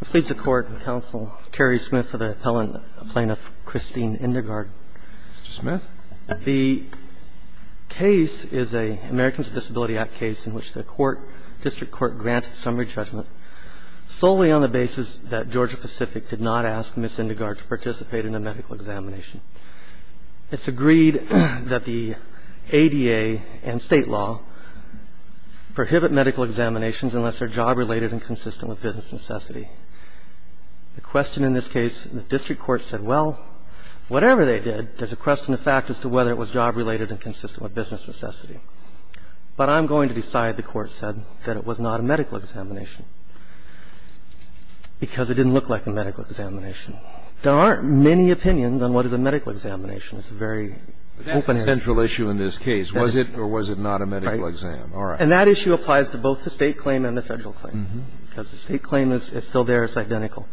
I please the Court and Counsel Kerry Smith for the appellant, Plaintiff Christine Indergard. Mr. Smith. The case is a Americans with Disabilities Act case in which the court, District Court, granted summary judgment solely on the basis that Georgia-Pacific did not ask Ms. Indergard to participate in a medical examination. It's agreed that the ADA and state law prohibit medical examinations unless they're job-related and consistent with business necessity. The question in this case, the District Court said, well, whatever they did, there's a question of fact as to whether it was job-related and consistent with business necessity. But I'm going to decide, the Court said, that it was not a medical examination because it didn't look like a medical examination. There aren't many opinions on what is a medical examination. It's a very open area. But that's the central issue in this case, was it or was it not a medical exam. Right. All right. And that issue applies to both the State claim and the Federal claim, because the State claim is still there. It's identical.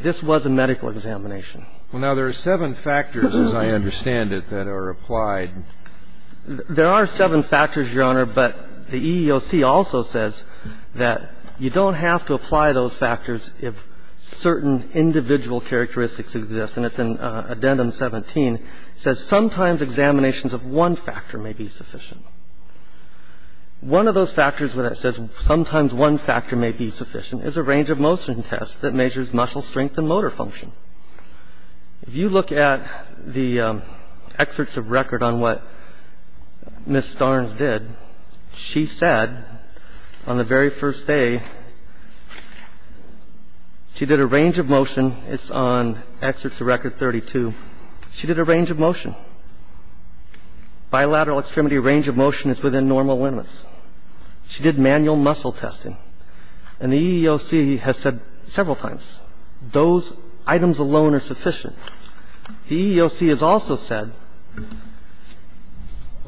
This was a medical examination. Well, now, there are seven factors, as I understand it, that are applied. There are seven factors, Your Honor, but the EEOC also says that you don't have to apply those factors if certain individual characteristics exist. And it's in Addendum 17. It says sometimes examinations of one factor may be sufficient. One of those factors where it says sometimes one factor may be sufficient is a range of motion test that measures muscle strength and motor function. If you look at the excerpts of record on what Ms. Starnes did, she said on the very first day, she did a range of motion. It's on Excerpts of Record 32. She did a range of motion. Bilateral extremity range of motion is within normal limits. She did manual muscle testing. And the EEOC has said several times, those items alone are sufficient. The EEOC has also said.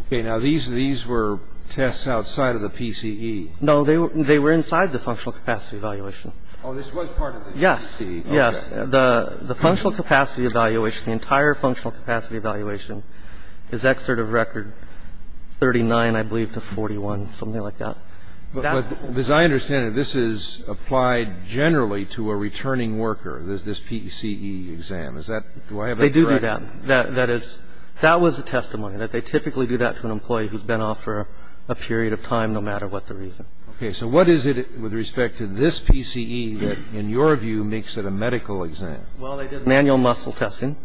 Okay. Now, these were tests outside of the PCE. No, they were inside the functional capacity evaluation. Oh, this was part of the PCE. Yes. Yes. The functional capacity evaluation, the entire functional capacity evaluation is Excerpt of Record 39, I believe, to 41, something like that. But as I understand it, this is applied generally to a returning worker, this PCE exam. Is that do I have that correct? They do do that. That is, that was a testimony, that they typically do that to an employee who's been off for a period of time, no matter what the reason. Okay. So what is it with respect to this PCE that, in your view, makes it a medical exam? Well, they did manual muscle testing.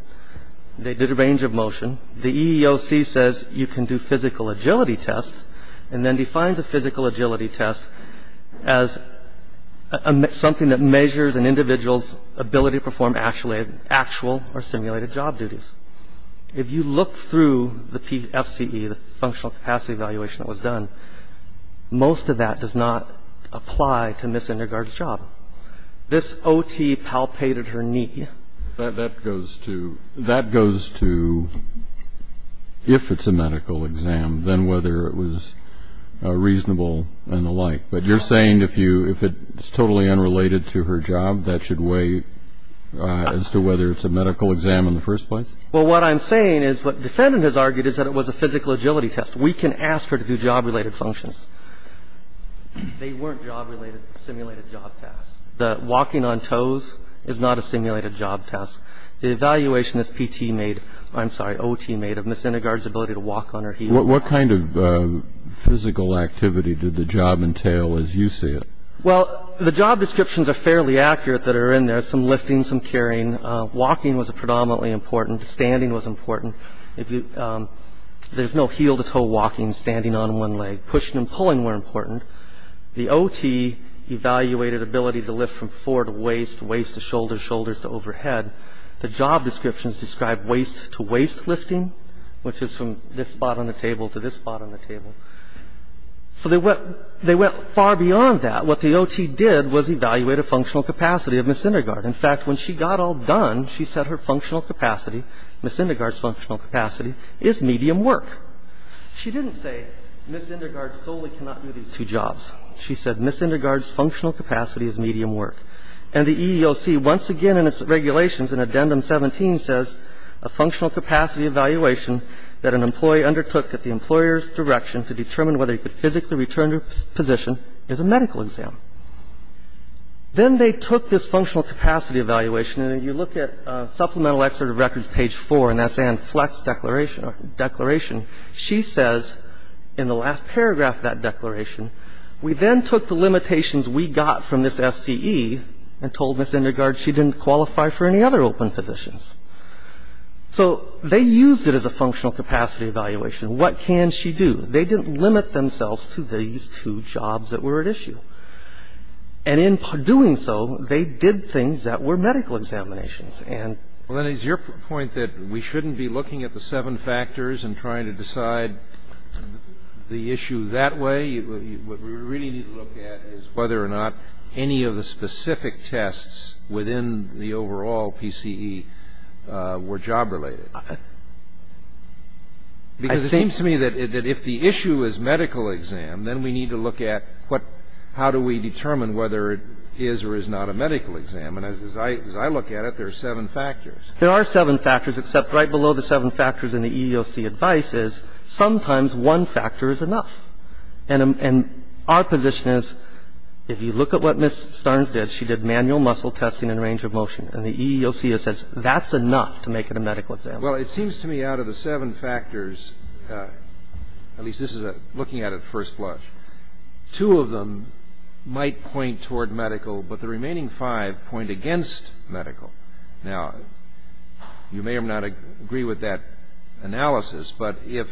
They did a range of motion. The EEOC says you can do physical agility tests and then defines a physical agility test as something that measures an individual's ability to perform actual or simulated job duties. If you look through the FCE, the functional capacity evaluation that was done, most of that does not apply to Ms. Indergaard's job. This OT palpated her knee. That goes to if it's a medical exam, then whether it was reasonable and the like. But you're saying if it's totally unrelated to her job, that should weigh as to whether it's a medical exam in the first place? Well, what I'm saying is what defendant has argued is that it was a physical agility test. We can ask her to do job-related functions. They weren't job-related simulated job tasks. The walking on toes is not a simulated job task. The evaluation that PT made, I'm sorry, OT made of Ms. Indergaard's ability to walk on her heels. What kind of physical activity did the job entail as you see it? Well, the job descriptions are fairly accurate that are in there. Some lifting, some carrying. Walking was predominantly important. Standing was important. There's no heel-to-toe walking, standing on one leg. Pushing and pulling were important. The OT evaluated ability to lift from fore to waist, waist to shoulder, shoulders to overhead. The job descriptions described waist-to-waist lifting, which is from this spot on the table to this spot on the table. So they went far beyond that. What the OT did was evaluate a functional capacity of Ms. Indergaard. In fact, when she got all done, she said her functional capacity, Ms. Indergaard's functional capacity, is medium work. She didn't say Ms. Indergaard solely cannot do these two jobs. She said Ms. Indergaard's functional capacity is medium work. And the EEOC once again in its regulations in Addendum 17 says a functional Then they took this functional capacity evaluation, and you look at Supplemental Excerpt of Records, page 4, and that's Anne Fletch's declaration. She says in the last paragraph of that declaration, we then took the limitations we got from this FCE and told Ms. Indergaard she didn't qualify for any other open positions. So they used it as a functional capacity evaluation. And the EEOC said, well, if Ms. Indergaard doesn't qualify for any other open positions, what can she do? They didn't limit themselves to these two jobs that were at issue. And in doing so, they did things that were medical examinations. And the EEOC said, well, if Ms. Indergaard doesn't qualify for any other open positions, And it seems to me that if the issue is medical exam, then we need to look at what how do we determine whether it is or is not a medical exam. And as I look at it, there are seven factors. There are seven factors, except right below the seven factors in the EEOC advice is sometimes one factor is enough. And our position is if you look at what Ms. Starnes did, she did manual muscle testing and range of motion. And the EEOC says that's enough to make it a medical exam. Well, it seems to me out of the seven factors, at least this is looking at it first blush, two of them might point toward medical, but the remaining five point against medical. Now, you may or may not agree with that analysis, but is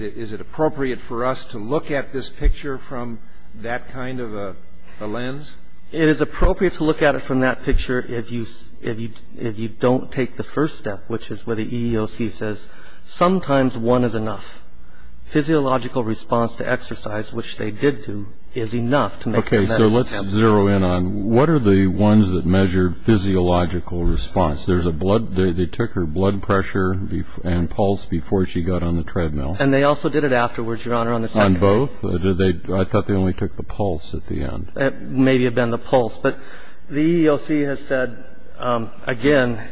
it appropriate for us to look at this picture from that kind of a lens? It is appropriate to look at it from that picture if you don't take the first step, which is where the EEOC says sometimes one is enough. Physiological response to exercise, which they did do, is enough to make it a medical exam. Okay, so let's zero in on what are the ones that measure physiological response? They took her blood pressure and pulse before she got on the treadmill. And they also did it afterwards, Your Honor, on the second day. On both? I thought they only took the pulse at the end. It may have been the pulse, but the EEOC has said, again,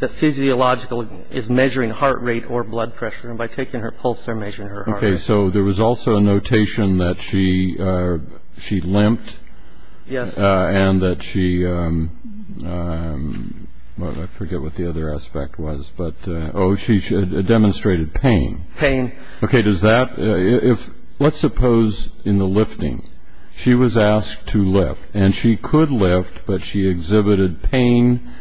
that physiological is measuring heart rate or blood pressure, and by taking her pulse they're measuring her heart rate. Okay, so there was also a notation that she limped and that she, well, I forget what the other aspect was, but, oh, she demonstrated pain. Pain. Okay, does that, if, let's suppose in the lifting, she was asked to lift, and she could lift, but she exhibited pain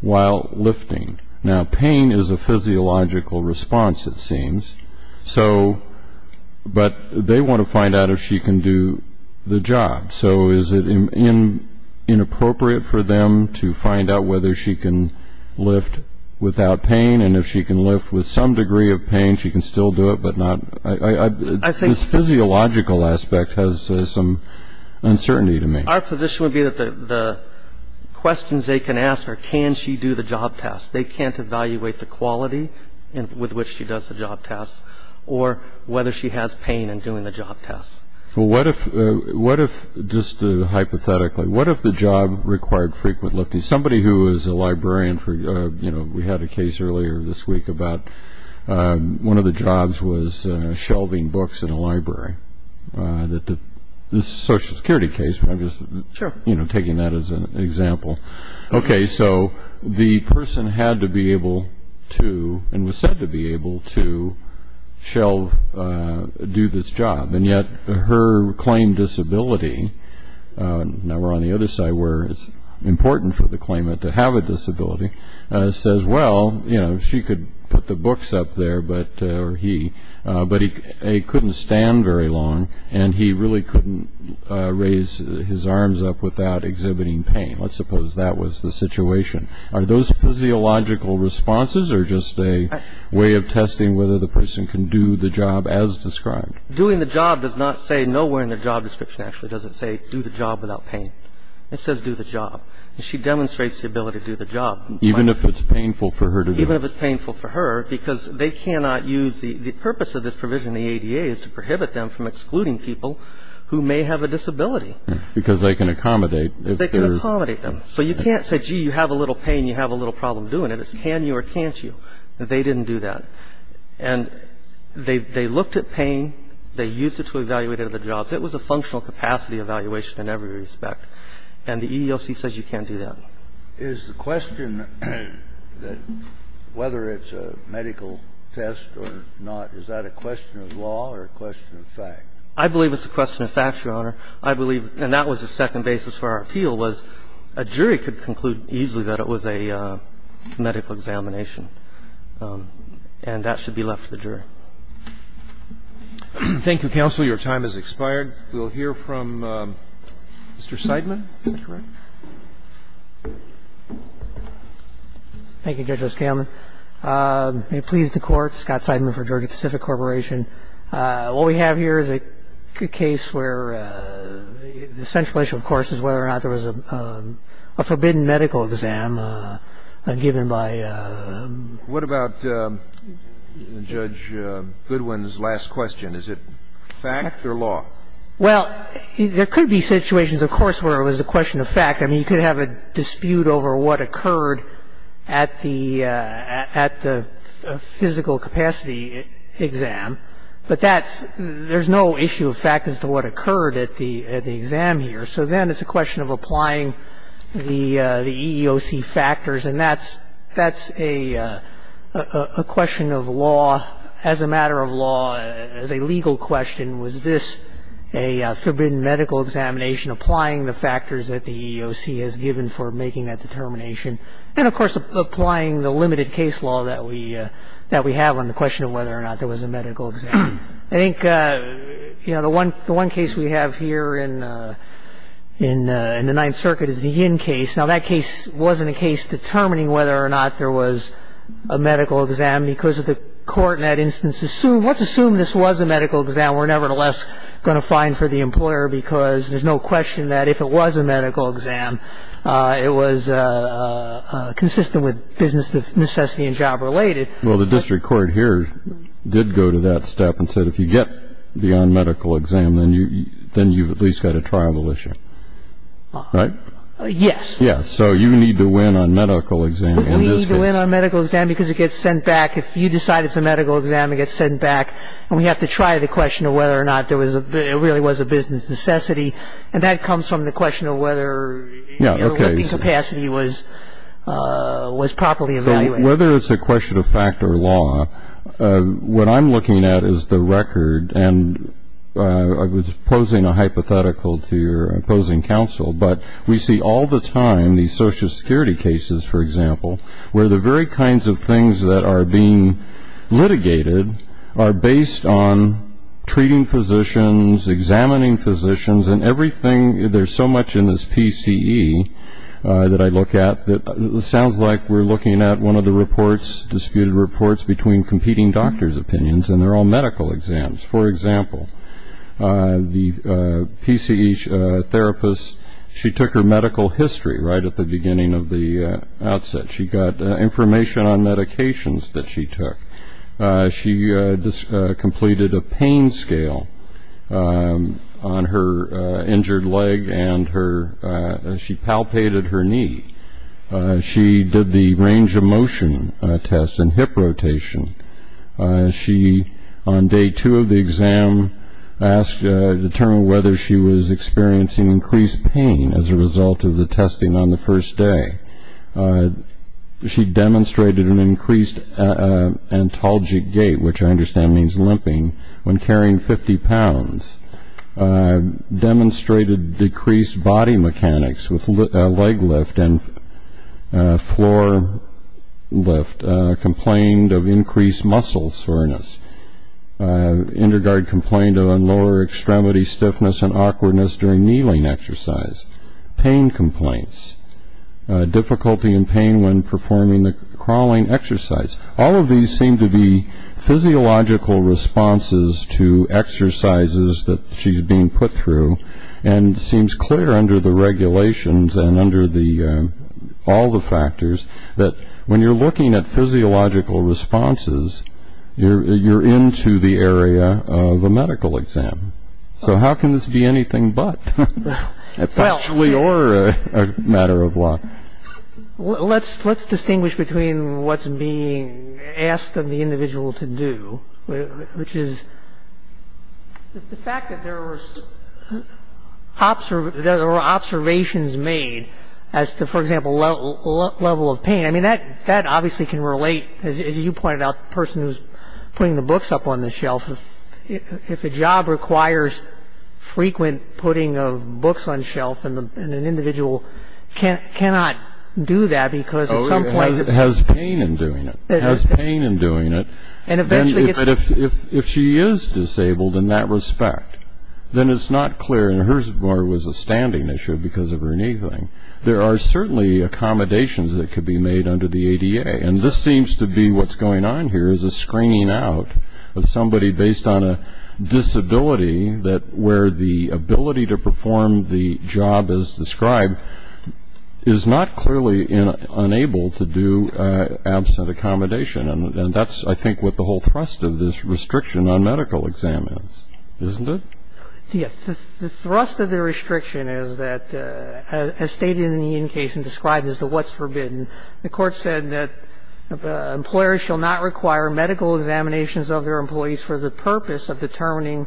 while lifting. Now, pain is a physiological response, it seems. So, but they want to find out if she can do the job. So is it inappropriate for them to find out whether she can lift without pain, and if she can lift with some degree of pain, she can still do it, but not? I think this physiological aspect has some uncertainty to me. Our position would be that the questions they can ask are, can she do the job test? They can't evaluate the quality with which she does the job test or whether she has pain in doing the job test. Well, what if, just hypothetically, what if the job required frequent lifting? Somebody who is a librarian for, you know, we had a case earlier this week about one of the jobs was shelving books in a library. This is a Social Security case, but I'm just taking that as an example. Okay, so the person had to be able to, and was said to be able to, shelve, do this job, and yet her claimed disability, now we're on the other side where it's important for the claimant to have a disability, says, well, you know, she could put the books up there, but he couldn't stand very long, and he really couldn't raise his arms up without exhibiting pain. Let's suppose that was the situation. Are those physiological responses or just a way of testing whether the person can do the job as described? Doing the job does not say, nowhere in the job description, actually, does it say do the job without pain. It says do the job, and she demonstrates the ability to do the job. Even if it's painful for her to do it? Even if it's painful for her, because they cannot use the purpose of this provision, the ADA, is to prohibit them from excluding people who may have a disability. Because they can accommodate. They can accommodate them. So you can't say, gee, you have a little pain, you have a little problem doing it. It's can you or can't you. They didn't do that. And they looked at pain. They used it to evaluate other jobs. It was a functional capacity evaluation in every respect. And the EEOC says you can't do that. Is the question that whether it's a medical test or not, is that a question of law or a question of fact? I believe it's a question of fact, Your Honor. I believe, and that was the second basis for our appeal, was a jury could conclude easily that it was a medical examination. And that should be left to the jury. Thank you, counsel. Your time has expired. We'll hear from Mr. Seidman. Is that correct? Thank you, Judge O'Scanlan. May it please the Court, Scott Seidman for Georgia Pacific Corporation. What we have here is a case where the central issue, of course, is whether or not there was a forbidden medical exam given by the judge. What about Judge Goodwin's last question? Is it fact or law? Well, there could be situations, of course, where it was a question of fact. I mean, you could have a dispute over what occurred at the physical capacity exam. But there's no issue of fact as to what occurred at the exam here. So then it's a question of applying the EEOC factors. And that's a question of law, as a matter of law, as a legal question. Was this a forbidden medical examination, applying the factors that the EEOC has given for making that determination? And, of course, applying the limited case law that we have on the question of whether or not there was a medical exam. I think, you know, the one case we have here in the Ninth Circuit is the Yin case. Now, that case wasn't a case determining whether or not there was a medical exam because the Court in that instance assumed, let's assume this was a medical exam, we're nevertheless going to fine for the employer because there's no question that if it was a medical exam, it was consistent with business necessity and job related. Well, the district court here did go to that step and said if you get beyond medical exam, then you've at least got a triable issue. Right? Yes. Yes. So you need to win on medical exam in this case. We need to win on medical exam because it gets sent back. If you decide it's a medical exam, it gets sent back. And we have to try the question of whether or not it really was a business necessity. And that comes from the question of whether lifting capacity was properly evaluated. Whether it's a question of fact or law, what I'm looking at is the record and I was posing a hypothetical to your opposing counsel, but we see all the time these Social Security cases, for example, where the very kinds of things that are being litigated are based on treating physicians, examining physicians, and everything, there's so much in this PCE that I look at, that it sounds like we're looking at one of the reports, disputed reports between competing doctors' opinions, and they're all medical exams. For example, the PCE therapist, she took her medical history right at the beginning of the outset. She got information on medications that she took. She completed a pain scale on her injured leg and she palpated her knee. She did the range of motion test and hip rotation. She, on day two of the exam, asked to determine whether she was experiencing increased pain as a result of the testing on the first day. She demonstrated an increased antalgic gait, which I understand means limping, when carrying 50 pounds. Demonstrated decreased body mechanics with leg lift and floor lift. Complained of increased muscle soreness. Indergard complained of a lower extremity stiffness and awkwardness during kneeling exercise. Pain complaints. Difficulty in pain when performing the crawling exercise. All of these seem to be physiological responses to exercises that she's being put through and seems clear under the regulations and under all the factors that when you're looking at physiological responses, you're into the area of a medical exam. So how can this be anything but? Actually, or a matter of luck. Let's distinguish between what's being asked of the individual to do, which is the fact that there were observations made as to, for example, level of pain. I mean, that obviously can relate. As you pointed out, the person who's putting the books up on the shelf, if a job requires frequent putting of books on the shelf, and an individual cannot do that because at some point- Has pain in doing it. Has pain in doing it. And eventually gets- But if she is disabled in that respect, then it's not clear. And hers was a standing issue because of her kneeling. There are certainly accommodations that could be made under the ADA, and this seems to be what's going on here is a screening out of somebody based on a disability where the ability to perform the job as described is not clearly unable to do absent accommodation. And that's, I think, what the whole thrust of this restriction on medical exam is, isn't it? Yes. The thrust of the restriction is that, as stated in the in case and described as the what's forbidden, the court said that employers shall not require medical examinations of their employees for the purpose of determining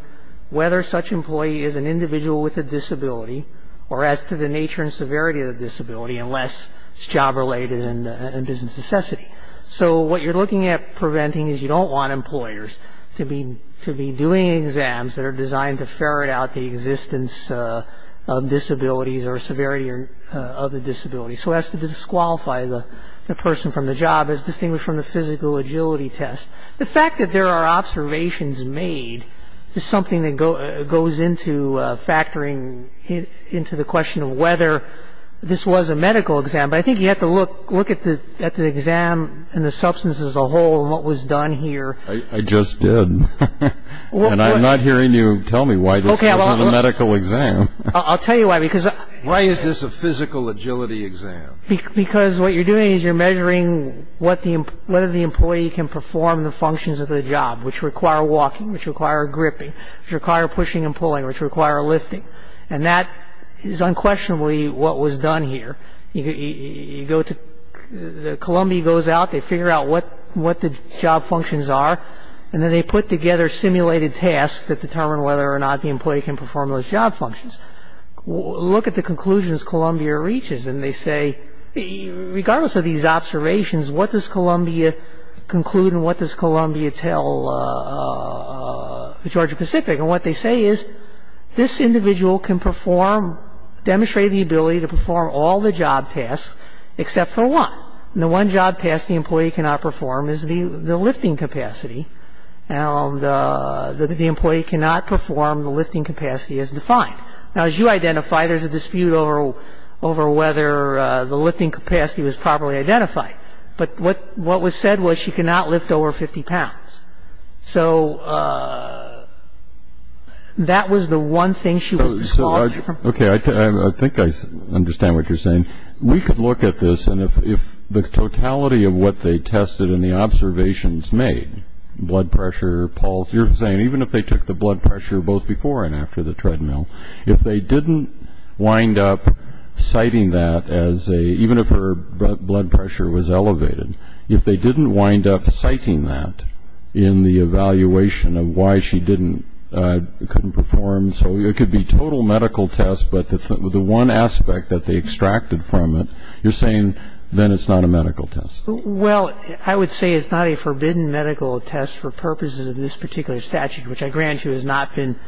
whether such employee is an individual with a disability or as to the nature and severity of the disability unless it's job-related and business necessity. So what you're looking at preventing is you don't want employers to be doing exams that are designed to ferret out the existence of disabilities or severity of the disability. So as to disqualify the person from the job as distinguished from the physical agility test. The fact that there are observations made is something that goes into factoring into the question of whether this was a medical exam. But I think you have to look at the exam and the substance as a whole and what was done here. I just did. And I'm not hearing you tell me why this wasn't a medical exam. I'll tell you why. Why is this a physical agility exam? Because what you're doing is you're measuring whether the employee can perform the functions of the job, which require walking, which require gripping, which require pushing and pulling, which require lifting. And that is unquestionably what was done here. You go to the Columbia, goes out, they figure out what the job functions are, and then they put together simulated tasks that determine whether or not the employee can perform those job functions. Look at the conclusions Columbia reaches and they say, regardless of these observations, what does Columbia conclude and what does Columbia tell the Georgia Pacific? And what they say is, this individual can perform, demonstrate the ability to perform all the job tasks except for one. And the one job task the employee cannot perform is the lifting capacity. And the employee cannot perform the lifting capacity as defined. Now, as you identified, there's a dispute over whether the lifting capacity was properly identified. But what was said was she cannot lift over 50 pounds. So that was the one thing she was disqualified from. Okay. I think I understand what you're saying. We could look at this and if the totality of what they tested and the observations made, blood pressure, pulse, you're saying even if they took the blood pressure both before and after the treadmill, if they didn't wind up citing that as a, even if her blood pressure was elevated, if they didn't wind up citing that in the evaluation of why she couldn't perform, so it could be total medical tests, but the one aspect that they extracted from it, you're saying then it's not a medical test. Well, I would say it's not a forbidden medical test for purposes of this particular statute, which I grant you has not been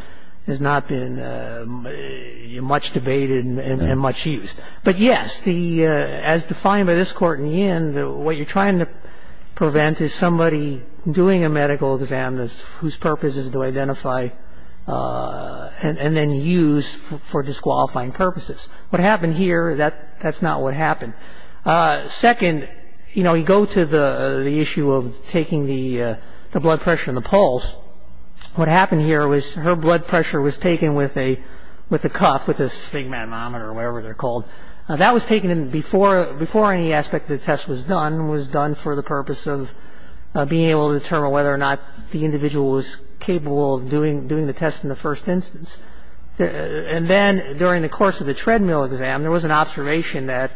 much debated and much used. But, yes, as defined by this court in the end, what you're trying to prevent is somebody doing a medical exam whose purpose is to identify and then use for disqualifying purposes. What happened here, that's not what happened. Second, you know, you go to the issue of taking the blood pressure and the pulse. What happened here was her blood pressure was taken with a cuff, with a sphygmometer or whatever they're called. That was taken before any aspect of the test was done, was done for the purpose of being able to determine whether or not the individual was capable of doing the test in the first instance. And then during the course of the treadmill exam, there was an observation that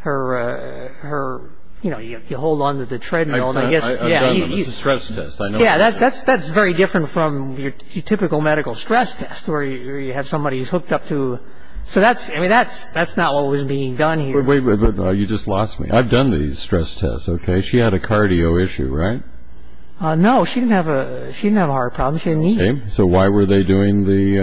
her, you know, you hold on to the treadmill. I've done them. It's a stress test. Yeah, that's very different from your typical medical stress test where you have somebody who's hooked up to. So that's, I mean, that's not what was being done here. Wait, you just lost me. I've done these stress tests, okay? She had a cardio issue, right? No, she didn't have a heart problem. She didn't eat. So why were they doing the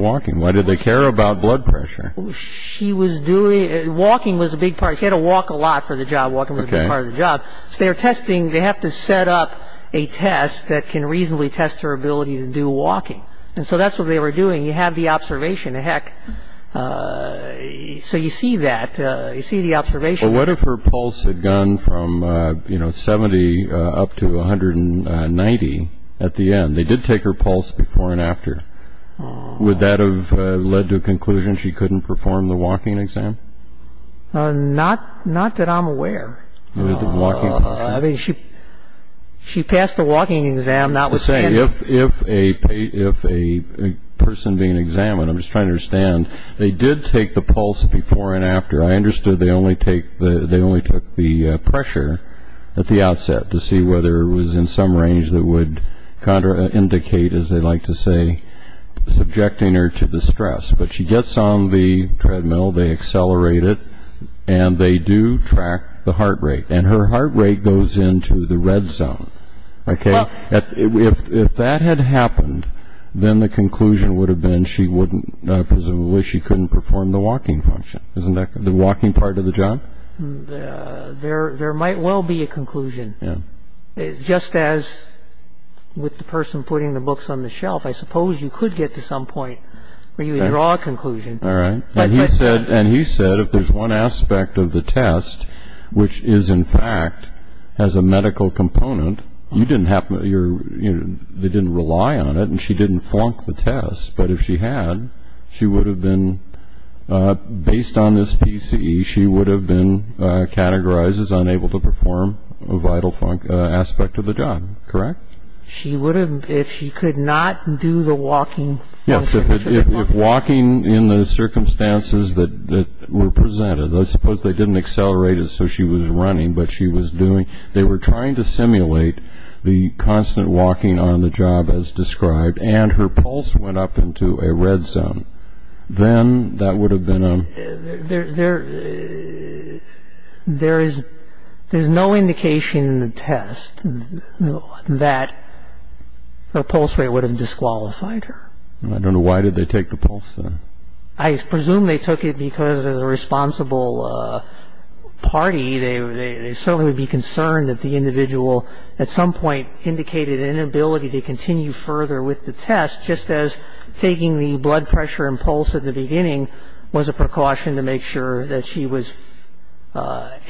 walking? Why did they care about blood pressure? She was doing it. Walking was a big part. She had to walk a lot for the job. Walking was a big part of the job. So they were testing. They have to set up a test that can reasonably test her ability to do walking. And so that's what they were doing. You have the observation. Heck, so you see that. You see the observation. Well, what if her pulse had gone from, you know, 70 up to 190 at the end? They did take her pulse before and after. Would that have led to a conclusion she couldn't perform the walking exam? Not that I'm aware. I mean, she passed the walking exam, not with standing. If a person being examined, I'm just trying to understand, they did take the pulse before and after. I understood they only took the pressure at the outset to see whether it was in some range that would indicate, as they like to say, subjecting her to the stress. But she gets on the treadmill, they accelerate it, and they do track the heart rate. And her heart rate goes into the red zone. If that had happened, then the conclusion would have been she wouldn't, presumably she couldn't perform the walking function, the walking part of the job. There might well be a conclusion. Just as with the person putting the books on the shelf, I suppose you could get to some point where you would draw a conclusion. All right. And he said if there's one aspect of the test which is, in fact, has a medical component, they didn't rely on it and she didn't flunk the test. But if she had, she would have been, based on this PCE, she would have been categorized as unable to perform a vital aspect of the job. Correct? She would have, if she could not do the walking function. Yes. If walking in the circumstances that were presented, let's suppose they didn't accelerate it so she was running, but she was doing, they were trying to simulate the constant walking on the job as described, and her pulse went up into a red zone. Then that would have been a... There is no indication in the test that the pulse rate would have disqualified her. I don't know why did they take the pulse then. I presume they took it because as a responsible party, they certainly would be concerned that the individual at some point indicated an inability to continue further with the test, just as taking the blood pressure and pulse at the beginning was a precaution to make sure that she was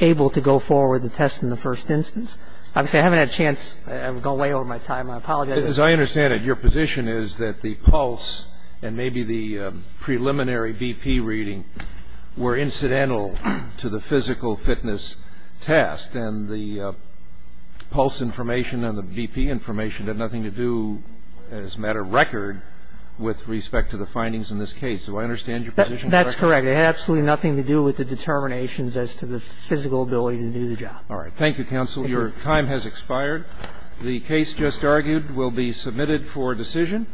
able to go forward with the test in the first instance. Obviously, I haven't had a chance. I've gone way over my time. I apologize. As I understand it, your position is that the pulse and maybe the preliminary BP reading were incidental to the physical fitness test and the pulse information and the BP information had nothing to do as a matter of record with respect to the findings in this case. Do I understand your position correctly? That's correct. It had absolutely nothing to do with the determinations as to the physical ability to do the job. All right. Thank you, counsel. Your time has expired. The case just argued will be submitted for decision.